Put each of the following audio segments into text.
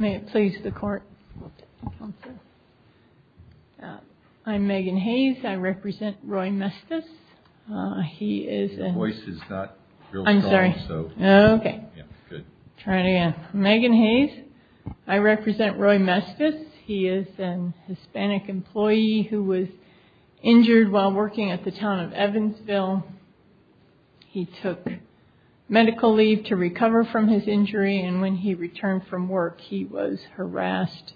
May it please the court. I'm Megan Hayes. I represent Roy Mestas. He is an Hispanic employee who was injured while working at the Town of Evansville. He took medical leave to recover from his injury and when he returned from work, he was harassed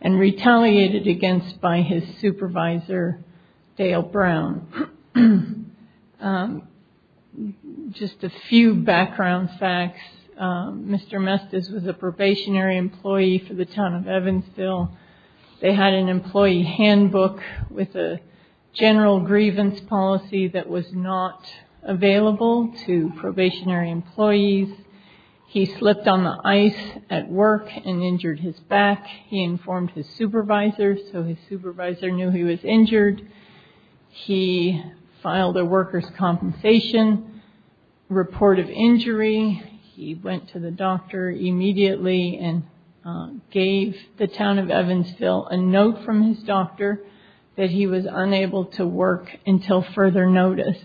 and retaliated against by his supervisor, Dale Brown. Just a few background facts. Mr. Mestas was a probationary employee for the Town of Evansville. They had an employee handbook with a general grievance policy that was not available to probationary employees. He slipped on the ice at work and injured his back. He informed his supervisor so his supervisor knew he was injured. He gave the Town of Evansville a note from his doctor that he was unable to work until further notice.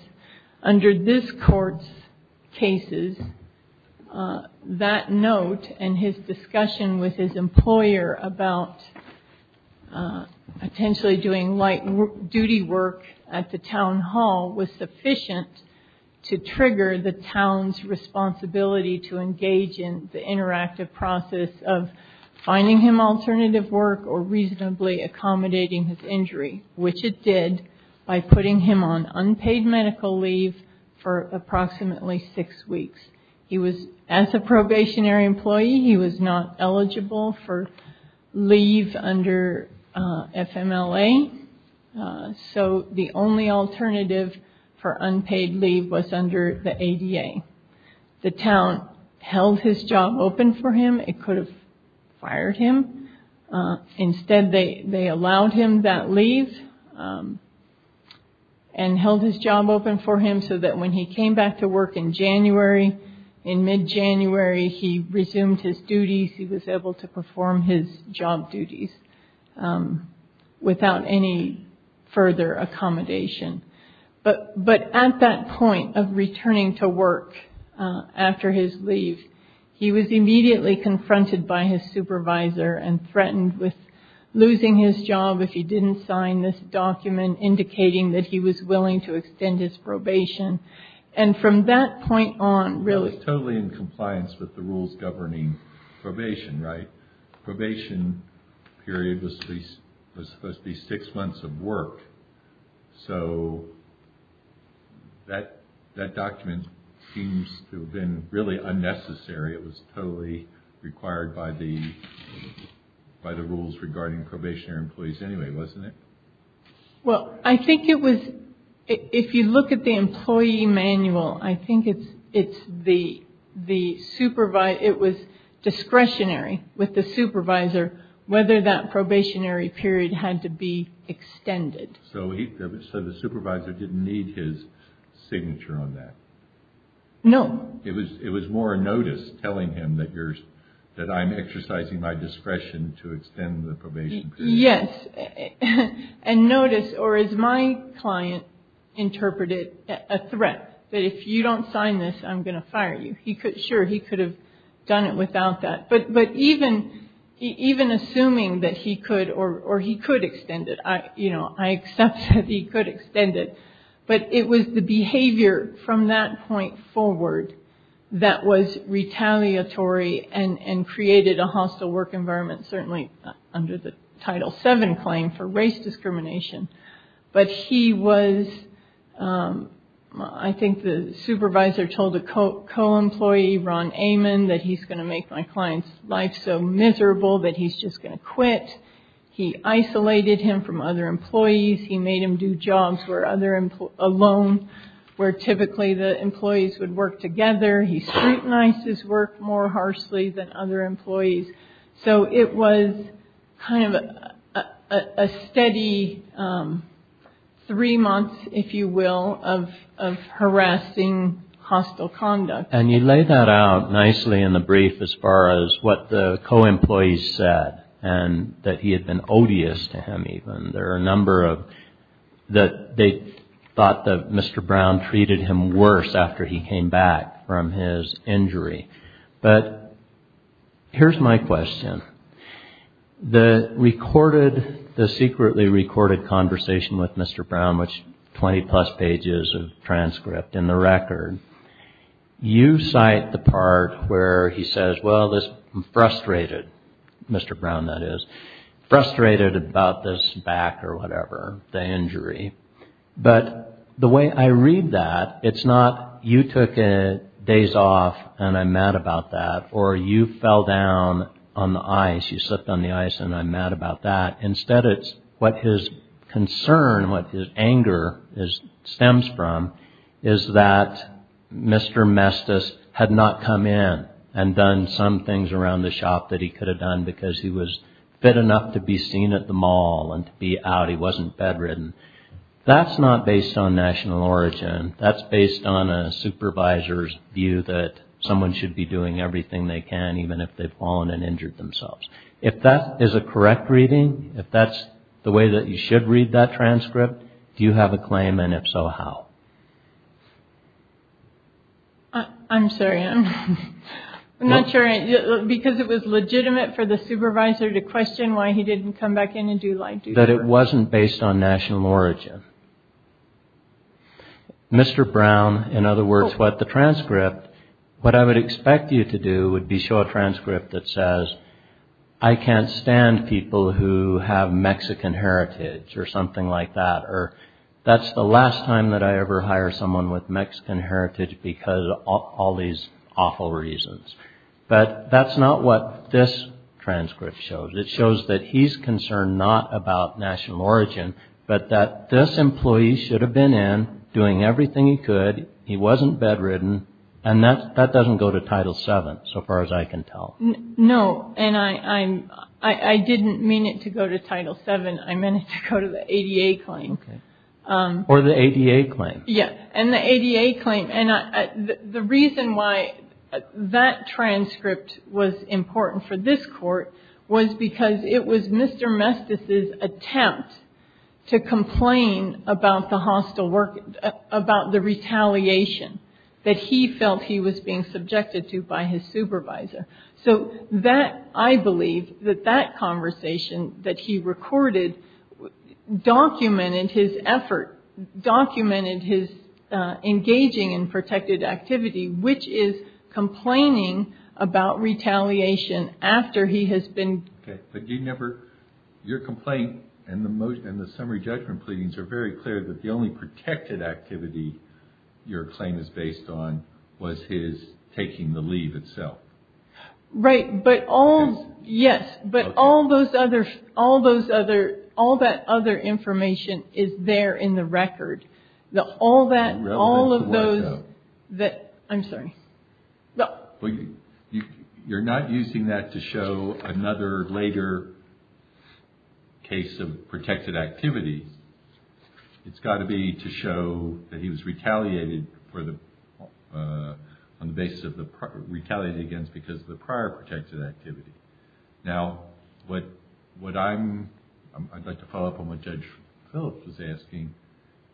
Under this court's cases, that note and his discussion with his employer about potentially doing light duty work at the Town Hall was sufficient to trigger the Town's him alternative work or reasonably accommodating his injury, which it did by putting him on unpaid medical leave for approximately six weeks. As a probationary employee, he was not eligible for leave under FMLA, so the only alternative for unpaid leave was under the ADA. The Town held his job open for him. It could have fired him. Instead, they allowed him that leave and held his job open for him so that when he came back to work in January, in mid-January, he resumed his duties. He was able to perform his job duties without any further accommodation. But at that point of returning to work after his leave, he was immediately confronted by his supervisor and threatened with losing his job if he didn't sign this document indicating that he was willing to extend his probation. And from that point on, really- That was totally in compliance with the rules governing probation, right? Probation period was supposed to be six months of work. So that document seems to have been really unnecessary. It was totally required by the rules regarding probationary employees anyway, wasn't it? Well, I think it was, if you look at the employee manual, I think it was discretionary with the supervisor whether that probationary period had to be extended. So the supervisor didn't need his signature on that? No. It was more a notice telling him that I'm exercising my discretion to extend the probation period? Yes. And notice, or as my client interpreted, a threat that if you don't sign this, I'm going to fire you. Sure, he could have done it without that. But even assuming that he could, or he could extend it. You know, I accept that he could extend it. But it was the behavior from that point forward that was retaliatory and created a hostile work environment, certainly under the Title VII claim for race discrimination. But he was, I think the supervisor told a co-employee, Ron Amon, that he's going to make my client's life so miserable that he's just going to quit. He isolated him from other employees. He made him do jobs alone, where typically the employees would work together. He scrutinized his work more harshly than other employees. So it was kind of a steady three months, if you will, of harassing hostile conduct. And you lay that out nicely in the brief as far as what the co-employees said and that he had been odious to him even. There are a number of that they thought that Mr. Brown treated him worse after he came back from his injury. But here's my question. The recorded, the secretly recorded conversation with Mr. Brown, which 20 plus pages of transcript in the record, you cite the part where he says, well, this frustrated, Mr. Brown that is, frustrated about this back or whatever, the injury. But the way I read that, it's not you took days off and I'm mad about that or you fell down on the ice, you slipped on the ice and I'm mad about that. Instead, it's what his concern, what his anger stems from is that Mr. Mestis had not come in and done some things around the shop that he could have done because he was fit enough to be seen at the mall and to be out. He wasn't bedridden. That's not based on national origin. That's based on a supervisor's view that someone should be doing everything they can, even if they've fallen and injured themselves. If that is a correct reading, if that's the way that you should read that transcript, do you have a claim? And if so, how? I'm sorry, I'm not sure because it was legitimate for the supervisor to question why he didn't come back in and do like. That it wasn't based on national origin. Mr. Brown, in other words, what the transcript, what I would expect you to do would be show a transcript that says, I can't stand people who have Mexican heritage or something like that, or that's the last time that I ever hire someone with Mexican heritage because of all these awful reasons. But that's not what this transcript shows. It shows that he's concerned not about national origin, but that this employee should have been in, doing everything he could. He wasn't bedridden. And that doesn't go to Title VII, so far as I can tell. No, and I didn't mean it to go to Title VII. I meant it to go to the ADA claim. Or the ADA claim. Yeah, and the ADA claim. And the reason why that transcript was important for this Court was because it was Mr. Mestis' attempt to complain about the hostile work, about the retaliation that he felt he was being subjected to by his supervisor. So that, I believe, that that conversation that he recorded documented his effort, documented his engaging in protected activity, which is complaining about retaliation after he has been. Okay, but you never, your complaint and the summary judgment pleadings are very clear that the only protected activity your claim is based on was his taking the leave itself. Right, but all, yes, but all those other, all that other information is there in the record. All that, all of those, I'm sorry. You're not using that to show another later case of protected activity. It's got to be to show that he was retaliated for the, on the basis of the, retaliated against because of the prior protected activity. Now, what I'm, I'd like to follow up on what Judge Phillips was asking.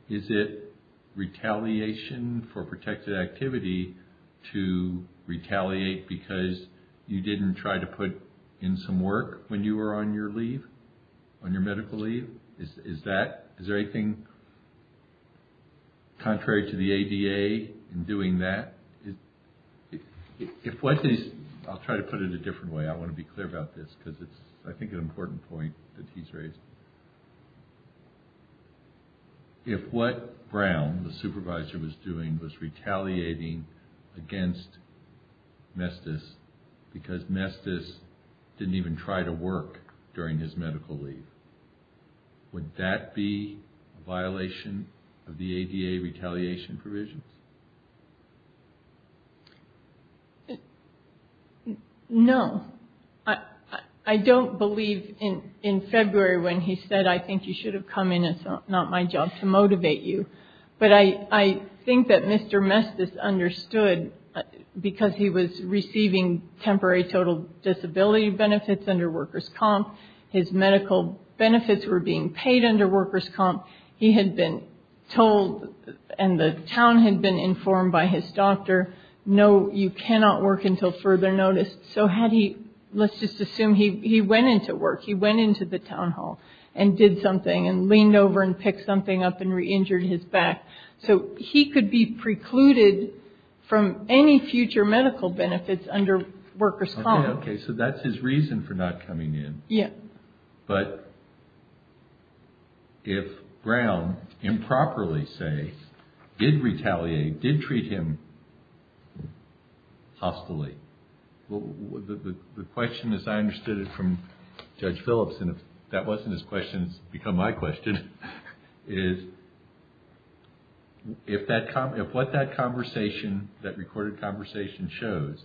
Is it retaliation for protected activity to retaliate because you didn't try to put in some work when you were on your leave, on your medical leave? Is that, is there anything contrary to the ADA in doing that? If what is, I'll try to put it a different way. I want to be clear about this because it's, I think, an important point that he's raised. If what Brown, the supervisor, was doing was retaliating against Mestis because Mestis didn't even try to work during his medical leave, would that be a violation of the ADA retaliation provisions? No. I don't believe in February when he said, I think you should have come in, it's not my job to motivate you. But I think that Mr. Mestis understood because he was receiving temporary total disability benefits under workers' comp, his medical benefits were being paid under workers' comp. He had been told, and the town had been informed by his doctor, no, you cannot work until further notice. So had he, let's just assume he went into work, he went into the town hall and did something and leaned over and picked something up and re-injured his back. So he could be precluded from any future medical benefits under workers' comp. Okay, so that's his reason for not coming in. Yeah. But if Brown improperly, say, did retaliate, did treat him hostilely, the question, as I understood it from Judge Phillips, and if that wasn't his question, it's become my question, is if what that conversation, that recorded conversation shows,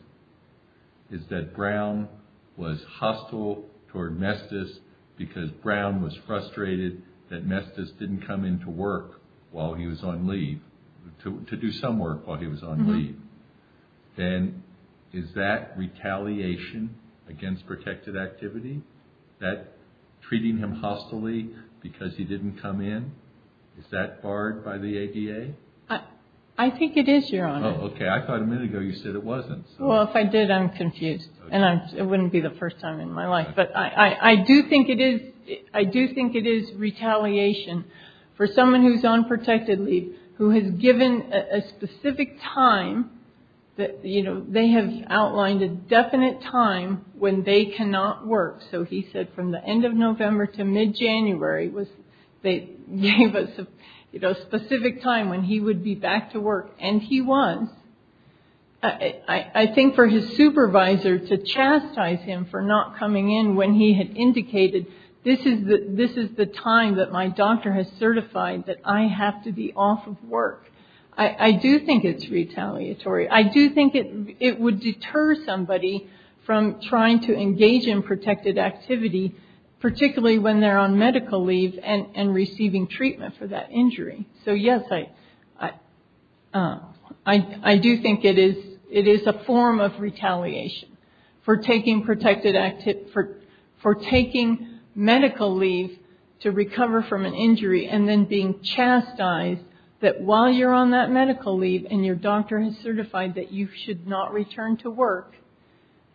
is that Brown was hostile toward Mestis because Brown was frustrated that Mestis didn't come into work while he was on leave, to do some work while he was on leave, then is that retaliation against protected activity? That treating him hostilely because he didn't come in, is that barred by the ADA? I think it is, Your Honor. Oh, okay. I thought a minute ago you said it wasn't. Well, if I did, I'm confused, and it wouldn't be the first time in my life. But I do think it is retaliation for someone who's on protected leave who has given a specific time that, you know, they have outlined a definite time when they cannot work. So he said from the end of November to mid-January was a specific time when he would be back to work, and he was. I think for his supervisor to chastise him for not coming in when he had indicated, this is the time that my doctor has certified that I have to be off of work, I do think it's retaliatory. I do think it would deter somebody from trying to engage in protected activity, particularly when they're on medical leave and receiving treatment for that injury. So, yes, I do think it is a form of retaliation for taking medical leave to recover from an injury and then being chastised that while you're on that medical leave and your doctor has certified that you should not return to work,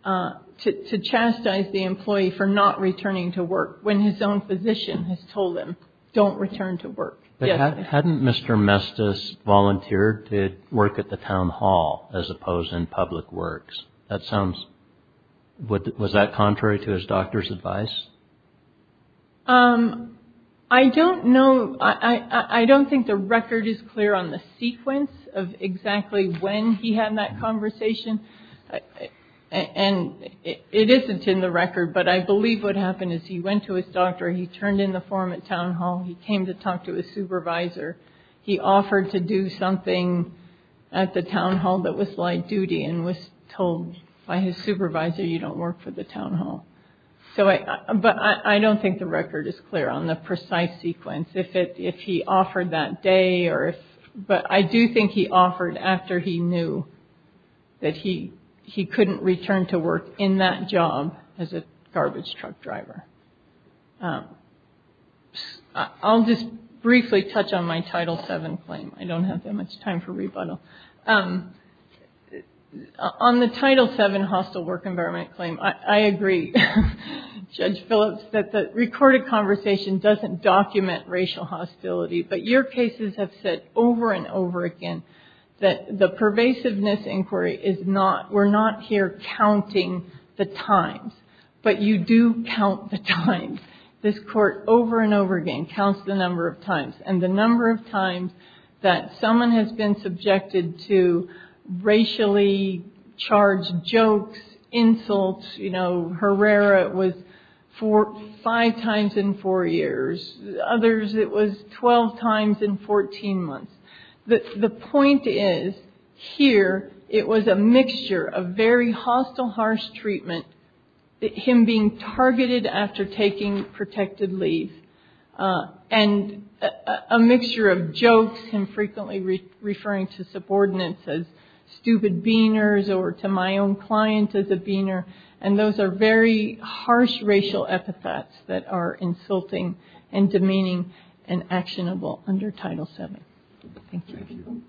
to chastise the employee for not returning to work when his own physician has told him, don't return to work. Hadn't Mr. Mestis volunteered to work at the town hall as opposed in public works? That sounds, was that contrary to his doctor's advice? I don't know. I don't think the record is clear on the sequence of exactly when he had that conversation, and it isn't in the record, but I believe what happened is he went to his doctor, he turned in the form at town hall, he came to talk to his supervisor, he offered to do something at the town hall that was light duty and was told by his supervisor you don't work for the town hall. But I don't think the record is clear on the precise sequence, if he offered that day, but I do think he offered after he knew that he couldn't return to work in that job as a garbage truck driver. I'll just briefly touch on my Title VII claim. I don't have that much time for rebuttal. On the Title VII hostile work environment claim, I agree, Judge Phillips, that the recorded conversation doesn't document racial hostility, but your cases have said over and over again that the pervasiveness inquiry is not, we're not here counting the times, but you do count the times. This Court over and over again counts the number of times, and the number of times that someone has been subjected to racially charged jokes, insults. Herrera, it was five times in four years. Others, it was 12 times in 14 months. The point is, here it was a mixture of very hostile, harsh treatment, him being targeted after taking protected leave, and a mixture of jokes and frequently referring to subordinates as stupid beaners, or to my own client as a beaner, and those are very harsh racial epithets that are insulting and demeaning and actionable under Title VII. Thank you. Thank you.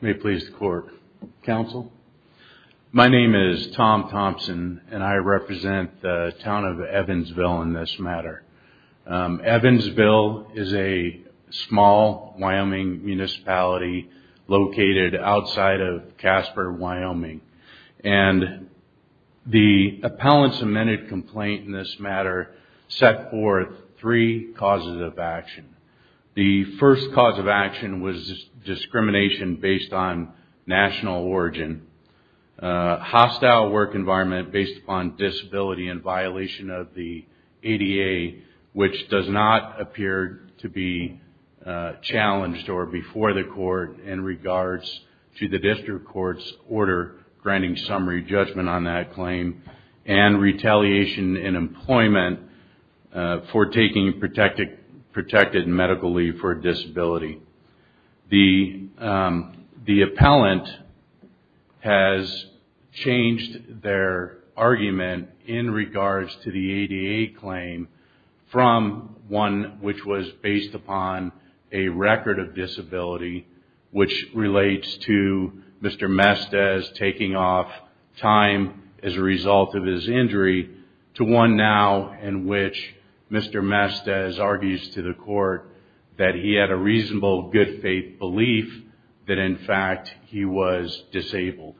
May it please the Court. Counsel? My name is Tom Thompson, and I represent the town of Evansville in this matter. Evansville is a small Wyoming municipality located outside of Casper, Wyoming, and the appellant's amended complaint in this matter set forth three causes of action. The first cause of action was discrimination based on national origin, hostile work environment based upon disability and violation of the ADA, which does not appear to be challenged or before the Court in regards to the District Court's order granting summary judgment on that claim, and retaliation in employment for taking protected medical leave for a disability. The appellant has changed their argument in regards to the ADA claim from one which was based upon a record of disability, which relates to Mr. Mestiz taking off time as a result of his injury, to one now in which Mr. Mestiz argues to the Court that he had a reasonable good faith belief that, in fact, he was disabled.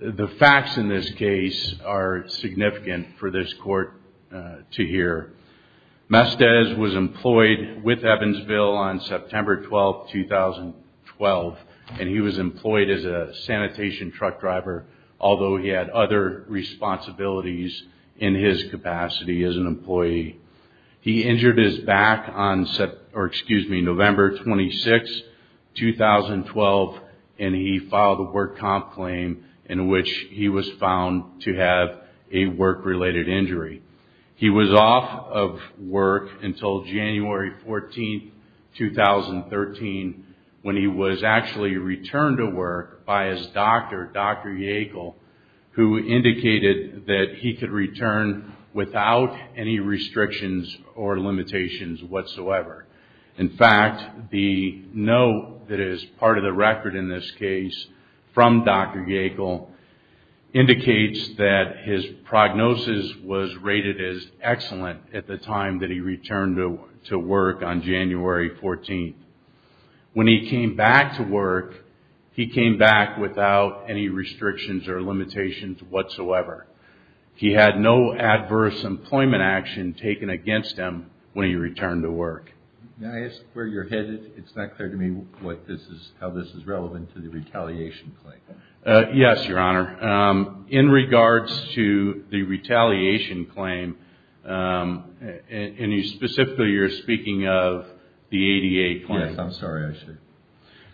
The facts in this case are significant for this Court to hear. Mestiz was employed with Evansville on September 12, 2012, and he was employed as a sanitation truck driver, although he had other responsibilities in his capacity as an employee. He injured his back on November 26, 2012, and he filed a work comp claim in which he was found to have a work-related injury. He was off of work until January 14, 2013, when he was actually returned to work by his doctor, Dr. Yackel, who indicated that he could return without any restrictions or limitations whatsoever. In fact, the note that is part of the record in this case from Dr. Yackel indicates that his prognosis was rated as excellent at the time that he returned to work on January 14. When he came back to work, he came back without any restrictions or limitations whatsoever. He had no adverse employment action taken against him when he returned to work. May I ask where you're headed? It's not clear to me how this is relevant to the retaliation claim. Yes, Your Honor. In regards to the retaliation claim, and specifically you're speaking of the ADA claim. Yes, I'm sorry, I should.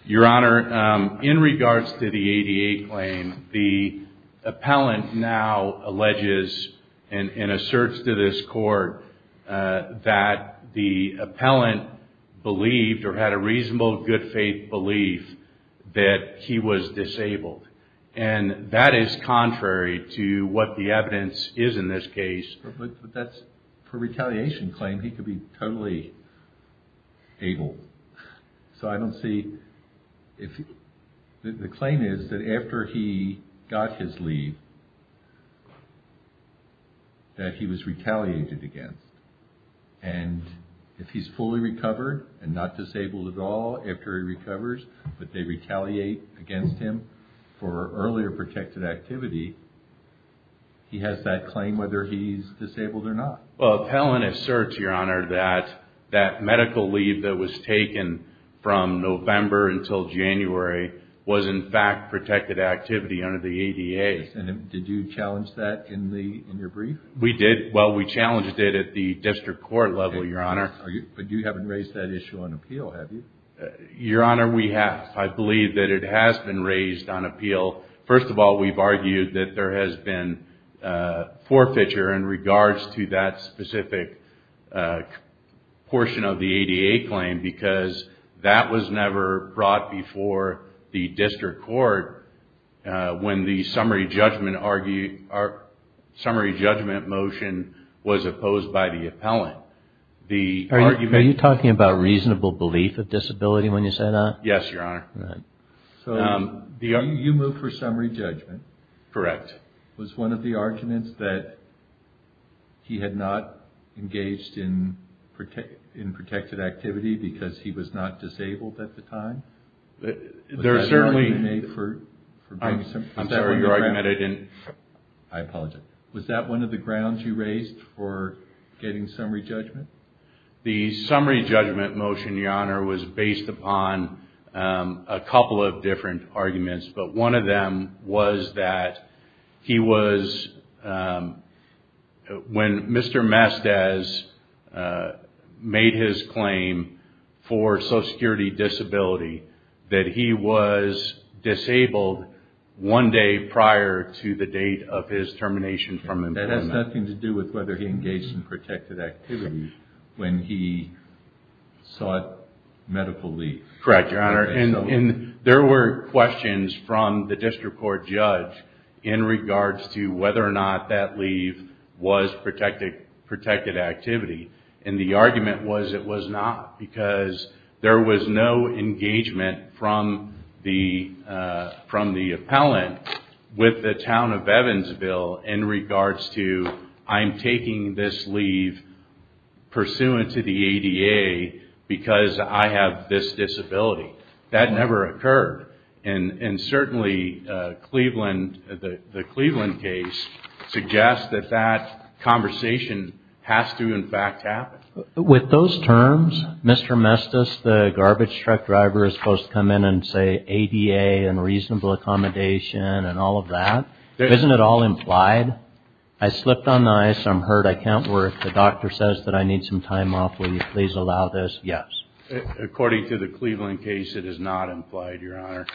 Your Honor, in regards to the ADA claim, the appellant now alleges and asserts to this court that the appellant believed or had a reasonable good faith belief that he was disabled. And that is contrary to what the evidence is in this case. But that's for retaliation claim. He could be totally able. So I don't see if the claim is that after he got his leave that he was retaliated against. And if he's fully recovered and not disabled at all after he recovers, but they retaliate against him for earlier protected activity, he has that claim whether he's disabled or not. Well, the appellant asserts, Your Honor, that that medical leave that was taken from November until January was in fact protected activity under the ADA. And did you challenge that in your brief? We did. Well, we challenged it at the district court level, Your Honor. But you haven't raised that issue on appeal, have you? Your Honor, we have. I believe that it has been raised on appeal. First of all, we've argued that there has been forfeiture in regards to that specific portion of the ADA claim because that was never brought before the district court when the summary judgment motion was opposed by the appellant. Are you talking about reasonable belief of disability when you say that? Yes, Your Honor. All right. So you moved for summary judgment. Correct. Was one of the arguments that he had not engaged in protected activity because he was not disabled at the time? There certainly... I'm sorry, Your Honor, I meant I didn't... I apologize. Was that one of the grounds you raised for getting summary judgment? The summary judgment motion, Your Honor, was based upon a couple of different arguments. But one of them was that he was... When Mr. Mestiz made his claim for social security disability, that he was disabled one day prior to the date of his termination from employment. That has nothing to do with whether he engaged in protected activity when he sought medical leave. Correct, Your Honor. There were questions from the district court judge in regards to whether or not that leave was protected activity. And the argument was it was not because there was no engagement from the appellant with the town of Evansville in regards to I'm taking this leave pursuant to the ADA because I have this disability. That never occurred. And certainly the Cleveland case suggests that that conversation has to, in fact, happen. With those terms, Mr. Mestiz, the garbage truck driver, is supposed to come in and say ADA and reasonable accommodation and all of that? Isn't it all implied? I slipped on the ice, I'm hurt, I can't work, the doctor says that I need some time off, will you please allow this? Yes. According to the Cleveland case, it is not implied, Your Honor.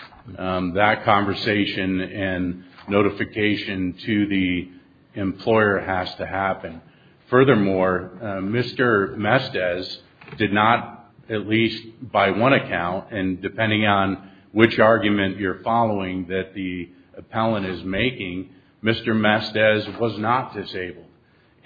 That conversation and notification to the employer has to happen. Furthermore, Mr. Mestiz did not, at least by one account, and depending on which argument you're following that the appellant is making, Mr. Mestiz was not disabled.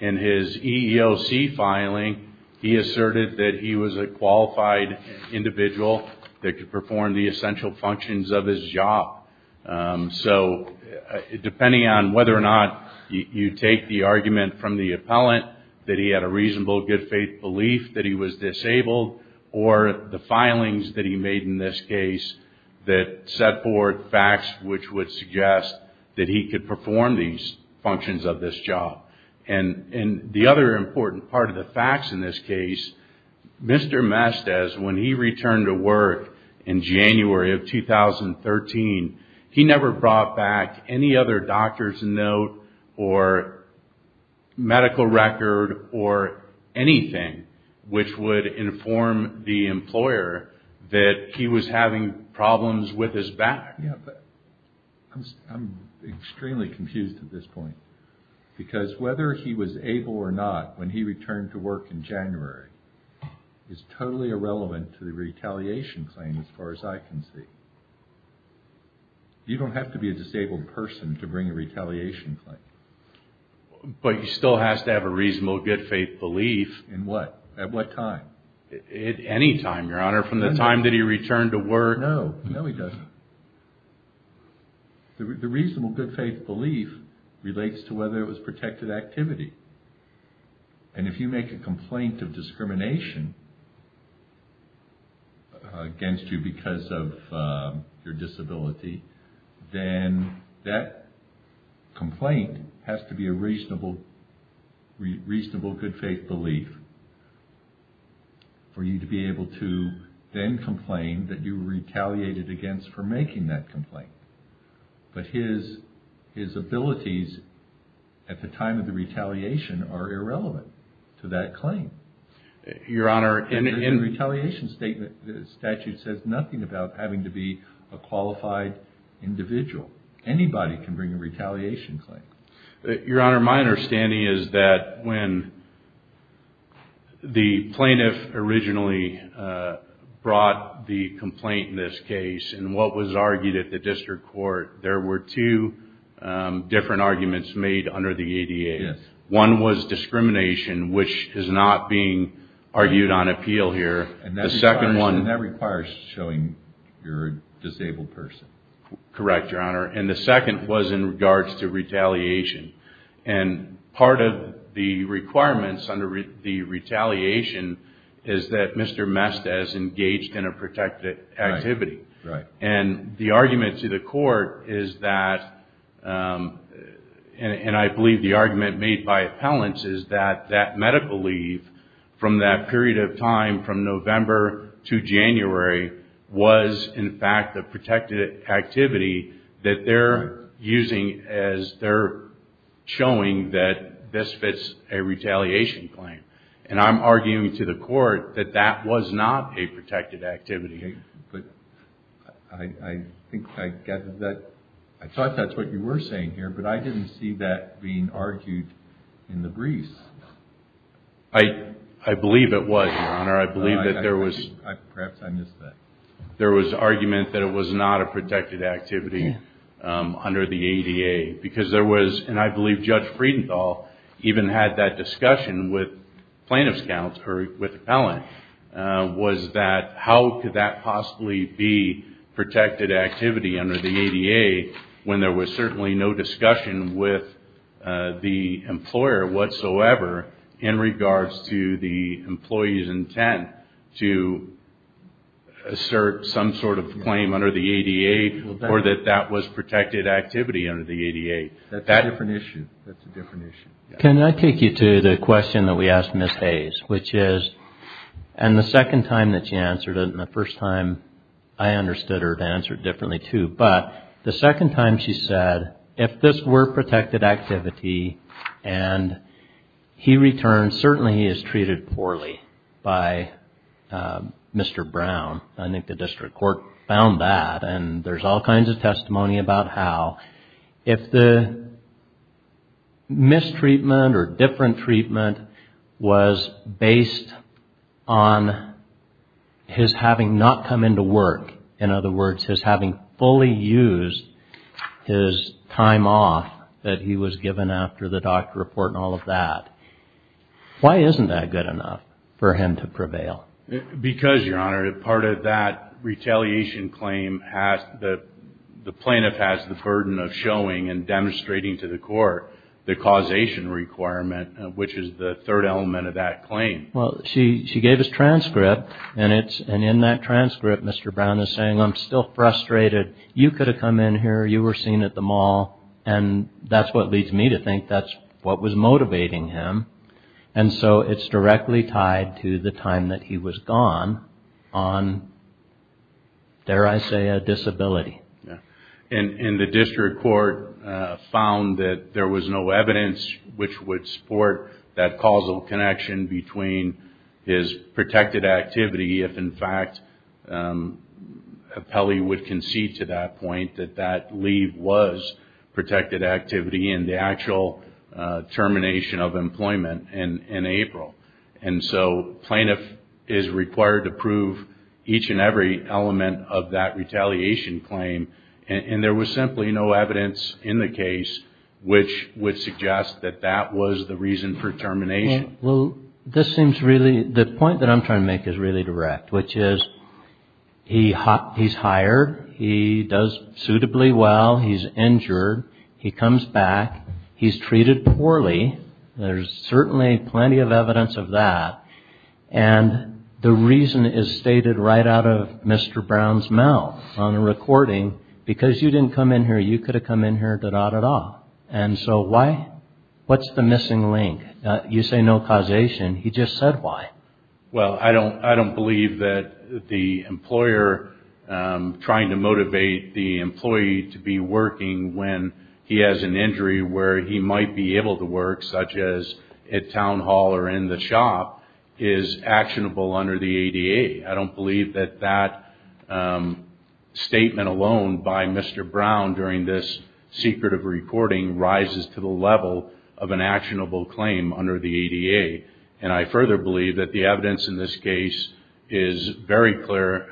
In his EEOC filing, he asserted that he was a qualified individual that could perform the essential functions of his job. So depending on whether or not you take the argument from the appellant that he had a reasonable good faith belief that he was disabled, or the filings that he made in this case that set forth facts which would suggest that he could perform these functions of this job. And the other important part of the facts in this case, Mr. Mestiz, when he returned to work in January of 2013, he never brought back any other doctor's note or medical record or anything which would inform the employer that he was having problems with his back. Yeah, but I'm extremely confused at this point. Because whether he was able or not when he returned to work in January is totally irrelevant to the retaliation claim as far as I can see. You don't have to be a disabled person to bring a retaliation claim. But he still has to have a reasonable good faith belief. In what? At what time? At any time, Your Honor, from the time that he returned to work. No, no he doesn't. The reasonable good faith belief relates to whether it was protected activity. And if you make a complaint of discrimination against you because of your disability, then that complaint has to be a reasonable good faith belief for you to be able to then complain that you retaliated against for making that complaint. But his abilities at the time of the retaliation are irrelevant to that claim. The retaliation statute says nothing about having to be a qualified individual. Anybody can bring a retaliation claim. Your Honor, my understanding is that when the plaintiff originally brought the complaint in this case and what was argued at the district court, there were two different arguments made under the ADA. One was discrimination, which is not being argued on appeal here. And that requires showing you're a disabled person. Correct, Your Honor. And the second was in regards to retaliation. And part of the requirements under the retaliation is that Mr. Mestiz engaged in a protected activity. And the argument to the court is that, and I believe the argument made by appellants, is that that medical leave from that period of time from November to January was, in fact, the protected activity that they're using as they're showing that this fits a retaliation claim. And I'm arguing to the court that that was not a protected activity. But I think I get that. I thought that's what you were saying here, but I didn't see that being argued in the briefs. I believe it was, Your Honor. I believe that there was. Perhaps I missed that. There was argument that it was not a protected activity under the ADA because there was, and I believe Judge Friedenthal even had that discussion with plaintiff's counsel or with appellant, was that how could that possibly be protected activity under the ADA when there was certainly no discussion with the employer whatsoever in regards to the employee's intent to assert some sort of claim under the ADA or that that was protected activity under the ADA. That's a different issue. That's a different issue. Can I take you to the question that we asked Ms. Hayes, which is, and the second time that she answered it and the first time I understood her to answer it differently too, but the second time she said, if this were protected activity and he returns, certainly he is treated poorly by Mr. Brown. I think the district court found that and there's all kinds of testimony about how. If the mistreatment or different treatment was based on his having not come into work, in other words, his having fully used his time off that he was given after the doctor report and all of that, why isn't that good enough for him to prevail? Because, Your Honor, part of that retaliation claim, the plaintiff has the burden of showing and demonstrating to the court the causation requirement, which is the third element of that claim. Well, she gave his transcript and in that transcript, Mr. Brown is saying, I'm still frustrated. You could have come in here. You were seen at the mall. And that's what leads me to think that's what was motivating him. And so it's directly tied to the time that he was gone on, dare I say, a disability. And the district court found that there was no evidence which would support that causal connection between his protected activity if, in fact, Pelley would concede to that point, that that leave was protected activity in the actual termination of employment in April. And so plaintiff is required to prove each and every element of that retaliation claim. And there was simply no evidence in the case which would suggest that that was the reason for termination. Well, this seems really the point that I'm trying to make is really direct, which is he's hired. He does suitably well. He's injured. He comes back. He's treated poorly. There's certainly plenty of evidence of that. And the reason is stated right out of Mr. Brown's mouth on the recording. Because you didn't come in here, you could have come in here. And so why? What's the missing link? You say no causation. He just said why. Well, I don't believe that the employer trying to motivate the employee to be working when he has an injury where he might be able to work, such as at town hall or in the shop, is actionable under the ADA. I don't believe that that statement alone by Mr. Brown during this secretive recording rises to the level of an actionable claim under the ADA. And I further believe that the evidence in this case is very clear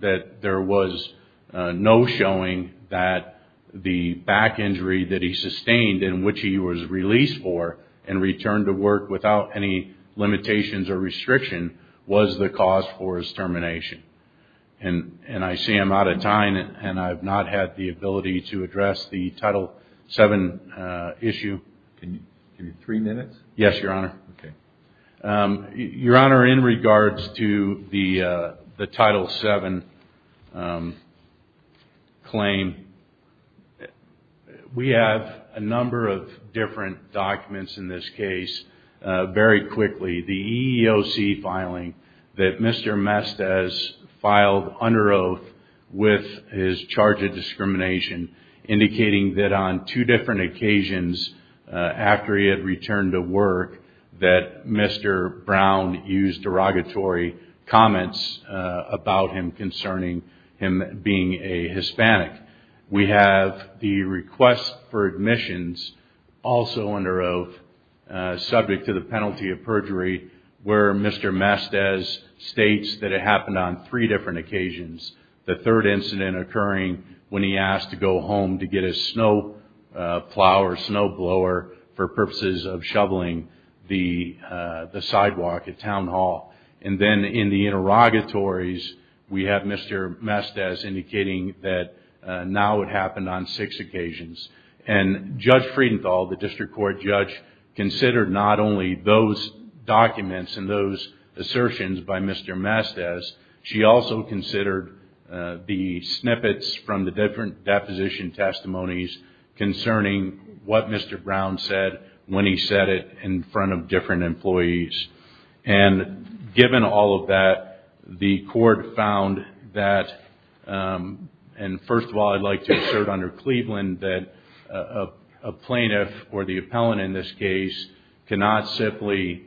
that there was no showing that the back injury that he sustained and which he was released for and returned to work without any limitations or restriction was the cause for his termination. And I see I'm out of time, and I have not had the ability to address the Title VII issue. Can you give me three minutes? Yes, Your Honor. Okay. Your Honor, in regards to the Title VII claim, we have a number of different documents in this case. Very quickly, the EEOC filing that Mr. Mestez filed under oath with his charge of discrimination, indicating that on two different occasions after he had returned to work that Mr. Brown used derogatory comments about him concerning him being a Hispanic. We have the request for admissions also under oath, subject to the penalty of perjury, where Mr. Mestez states that it happened on three different occasions. The third incident occurring when he asked to go home to get a snow plow or snow blower for purposes of shoveling the sidewalk at Town Hall. And then in the interrogatories, we have Mr. Mestez indicating that now it happened on six occasions. And Judge Friedenthal, the district court judge, considered not only those documents and those assertions by Mr. Mestez, she also considered the snippets from the different deposition testimonies concerning what Mr. Brown said when he said it in front of different employees. And given all of that, the court found that, and first of all I'd like to assert under Cleveland, that a plaintiff or the appellant in this case cannot simply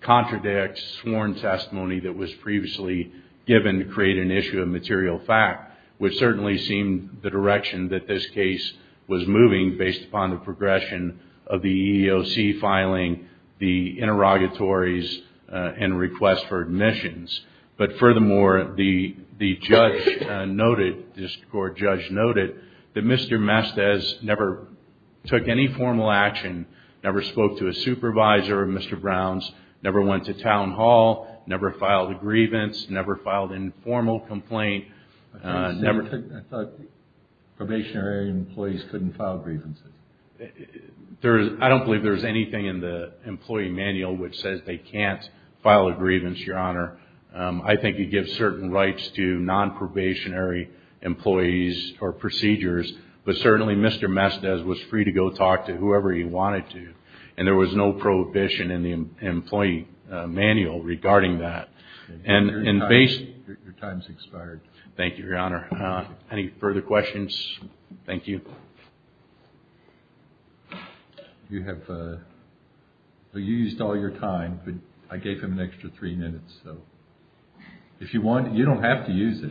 contradict sworn testimony that was previously given to create an issue of material fact, which certainly seemed the direction that this case was moving based upon the progression of the EEOC filing, the interrogatories, and request for admissions. But furthermore, the judge noted, the district court judge noted, that Mr. Mestez never took any formal action, never spoke to a supervisor of Mr. Brown's, never went to Town Hall, never filed a grievance, never filed an informal complaint. I thought probationary employees couldn't file grievances. I don't believe there's anything in the employee manual which says they can't file a grievance, Your Honor. I think you give certain rights to non-probationary employees or procedures, but certainly Mr. Mestez was free to go talk to whoever he wanted to. And there was no prohibition in the employee manual regarding that. Your time's expired. Thank you, Your Honor. Any further questions? Thank you. You have, you used all your time, but I gave him an extra three minutes, so if you want, you don't have to use it.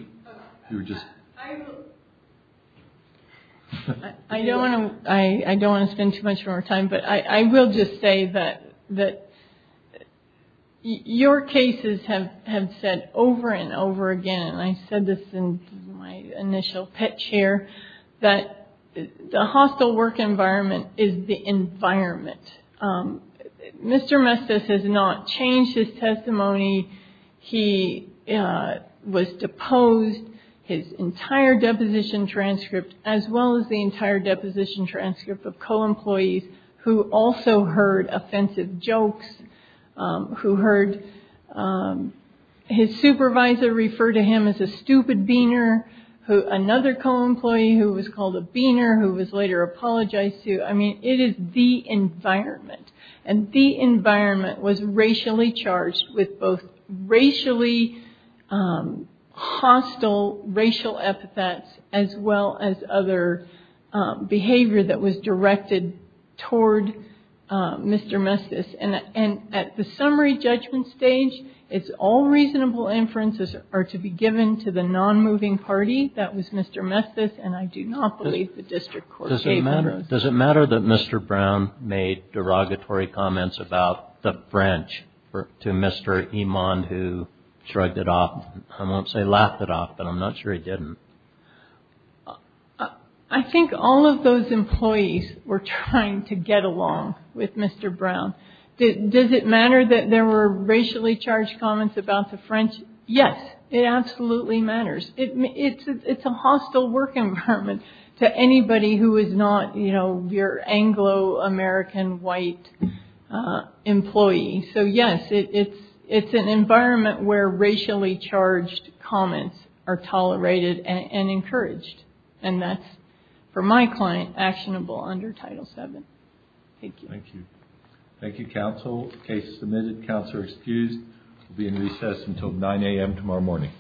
I don't want to spend too much more time, but I will just say that your cases have said over and over again, and I said this in my initial pitch here, that the hostile work environment is the environment. Mr. Mestez has not changed his testimony. He was deposed. His entire deposition transcript, as well as the entire deposition transcript of co-employees who also heard offensive jokes, who heard his supervisor refer to him as a stupid beaner, another co-employee who was called a beaner, who was later apologized to. I mean, it is the environment, and the environment was racially charged with both racially hostile racial epithets, as well as other behavior that was directed toward Mr. Mestez. And at the summary judgment stage, it's all reasonable inferences are to be given to the non-moving party. That was Mr. Mestez, and I do not believe the district court gave him those. Does it matter that Mr. Brown made derogatory comments about the French to Mr. Iman, who shrugged it off? I won't say laughed it off, but I'm not sure he didn't. I think all of those employees were trying to get along with Mr. Brown. Does it matter that there were racially charged comments about the French? Yes, it absolutely matters. It's a hostile work environment to anybody who is not, you know, your Anglo-American white employee. So, yes, it's an environment where racially charged comments are tolerated and encouraged. And that's, for my client, actionable under Title VII. Thank you. Thank you. Thank you, counsel. Case submitted. Counselor excused. We'll be in recess until 9 a.m. tomorrow morning.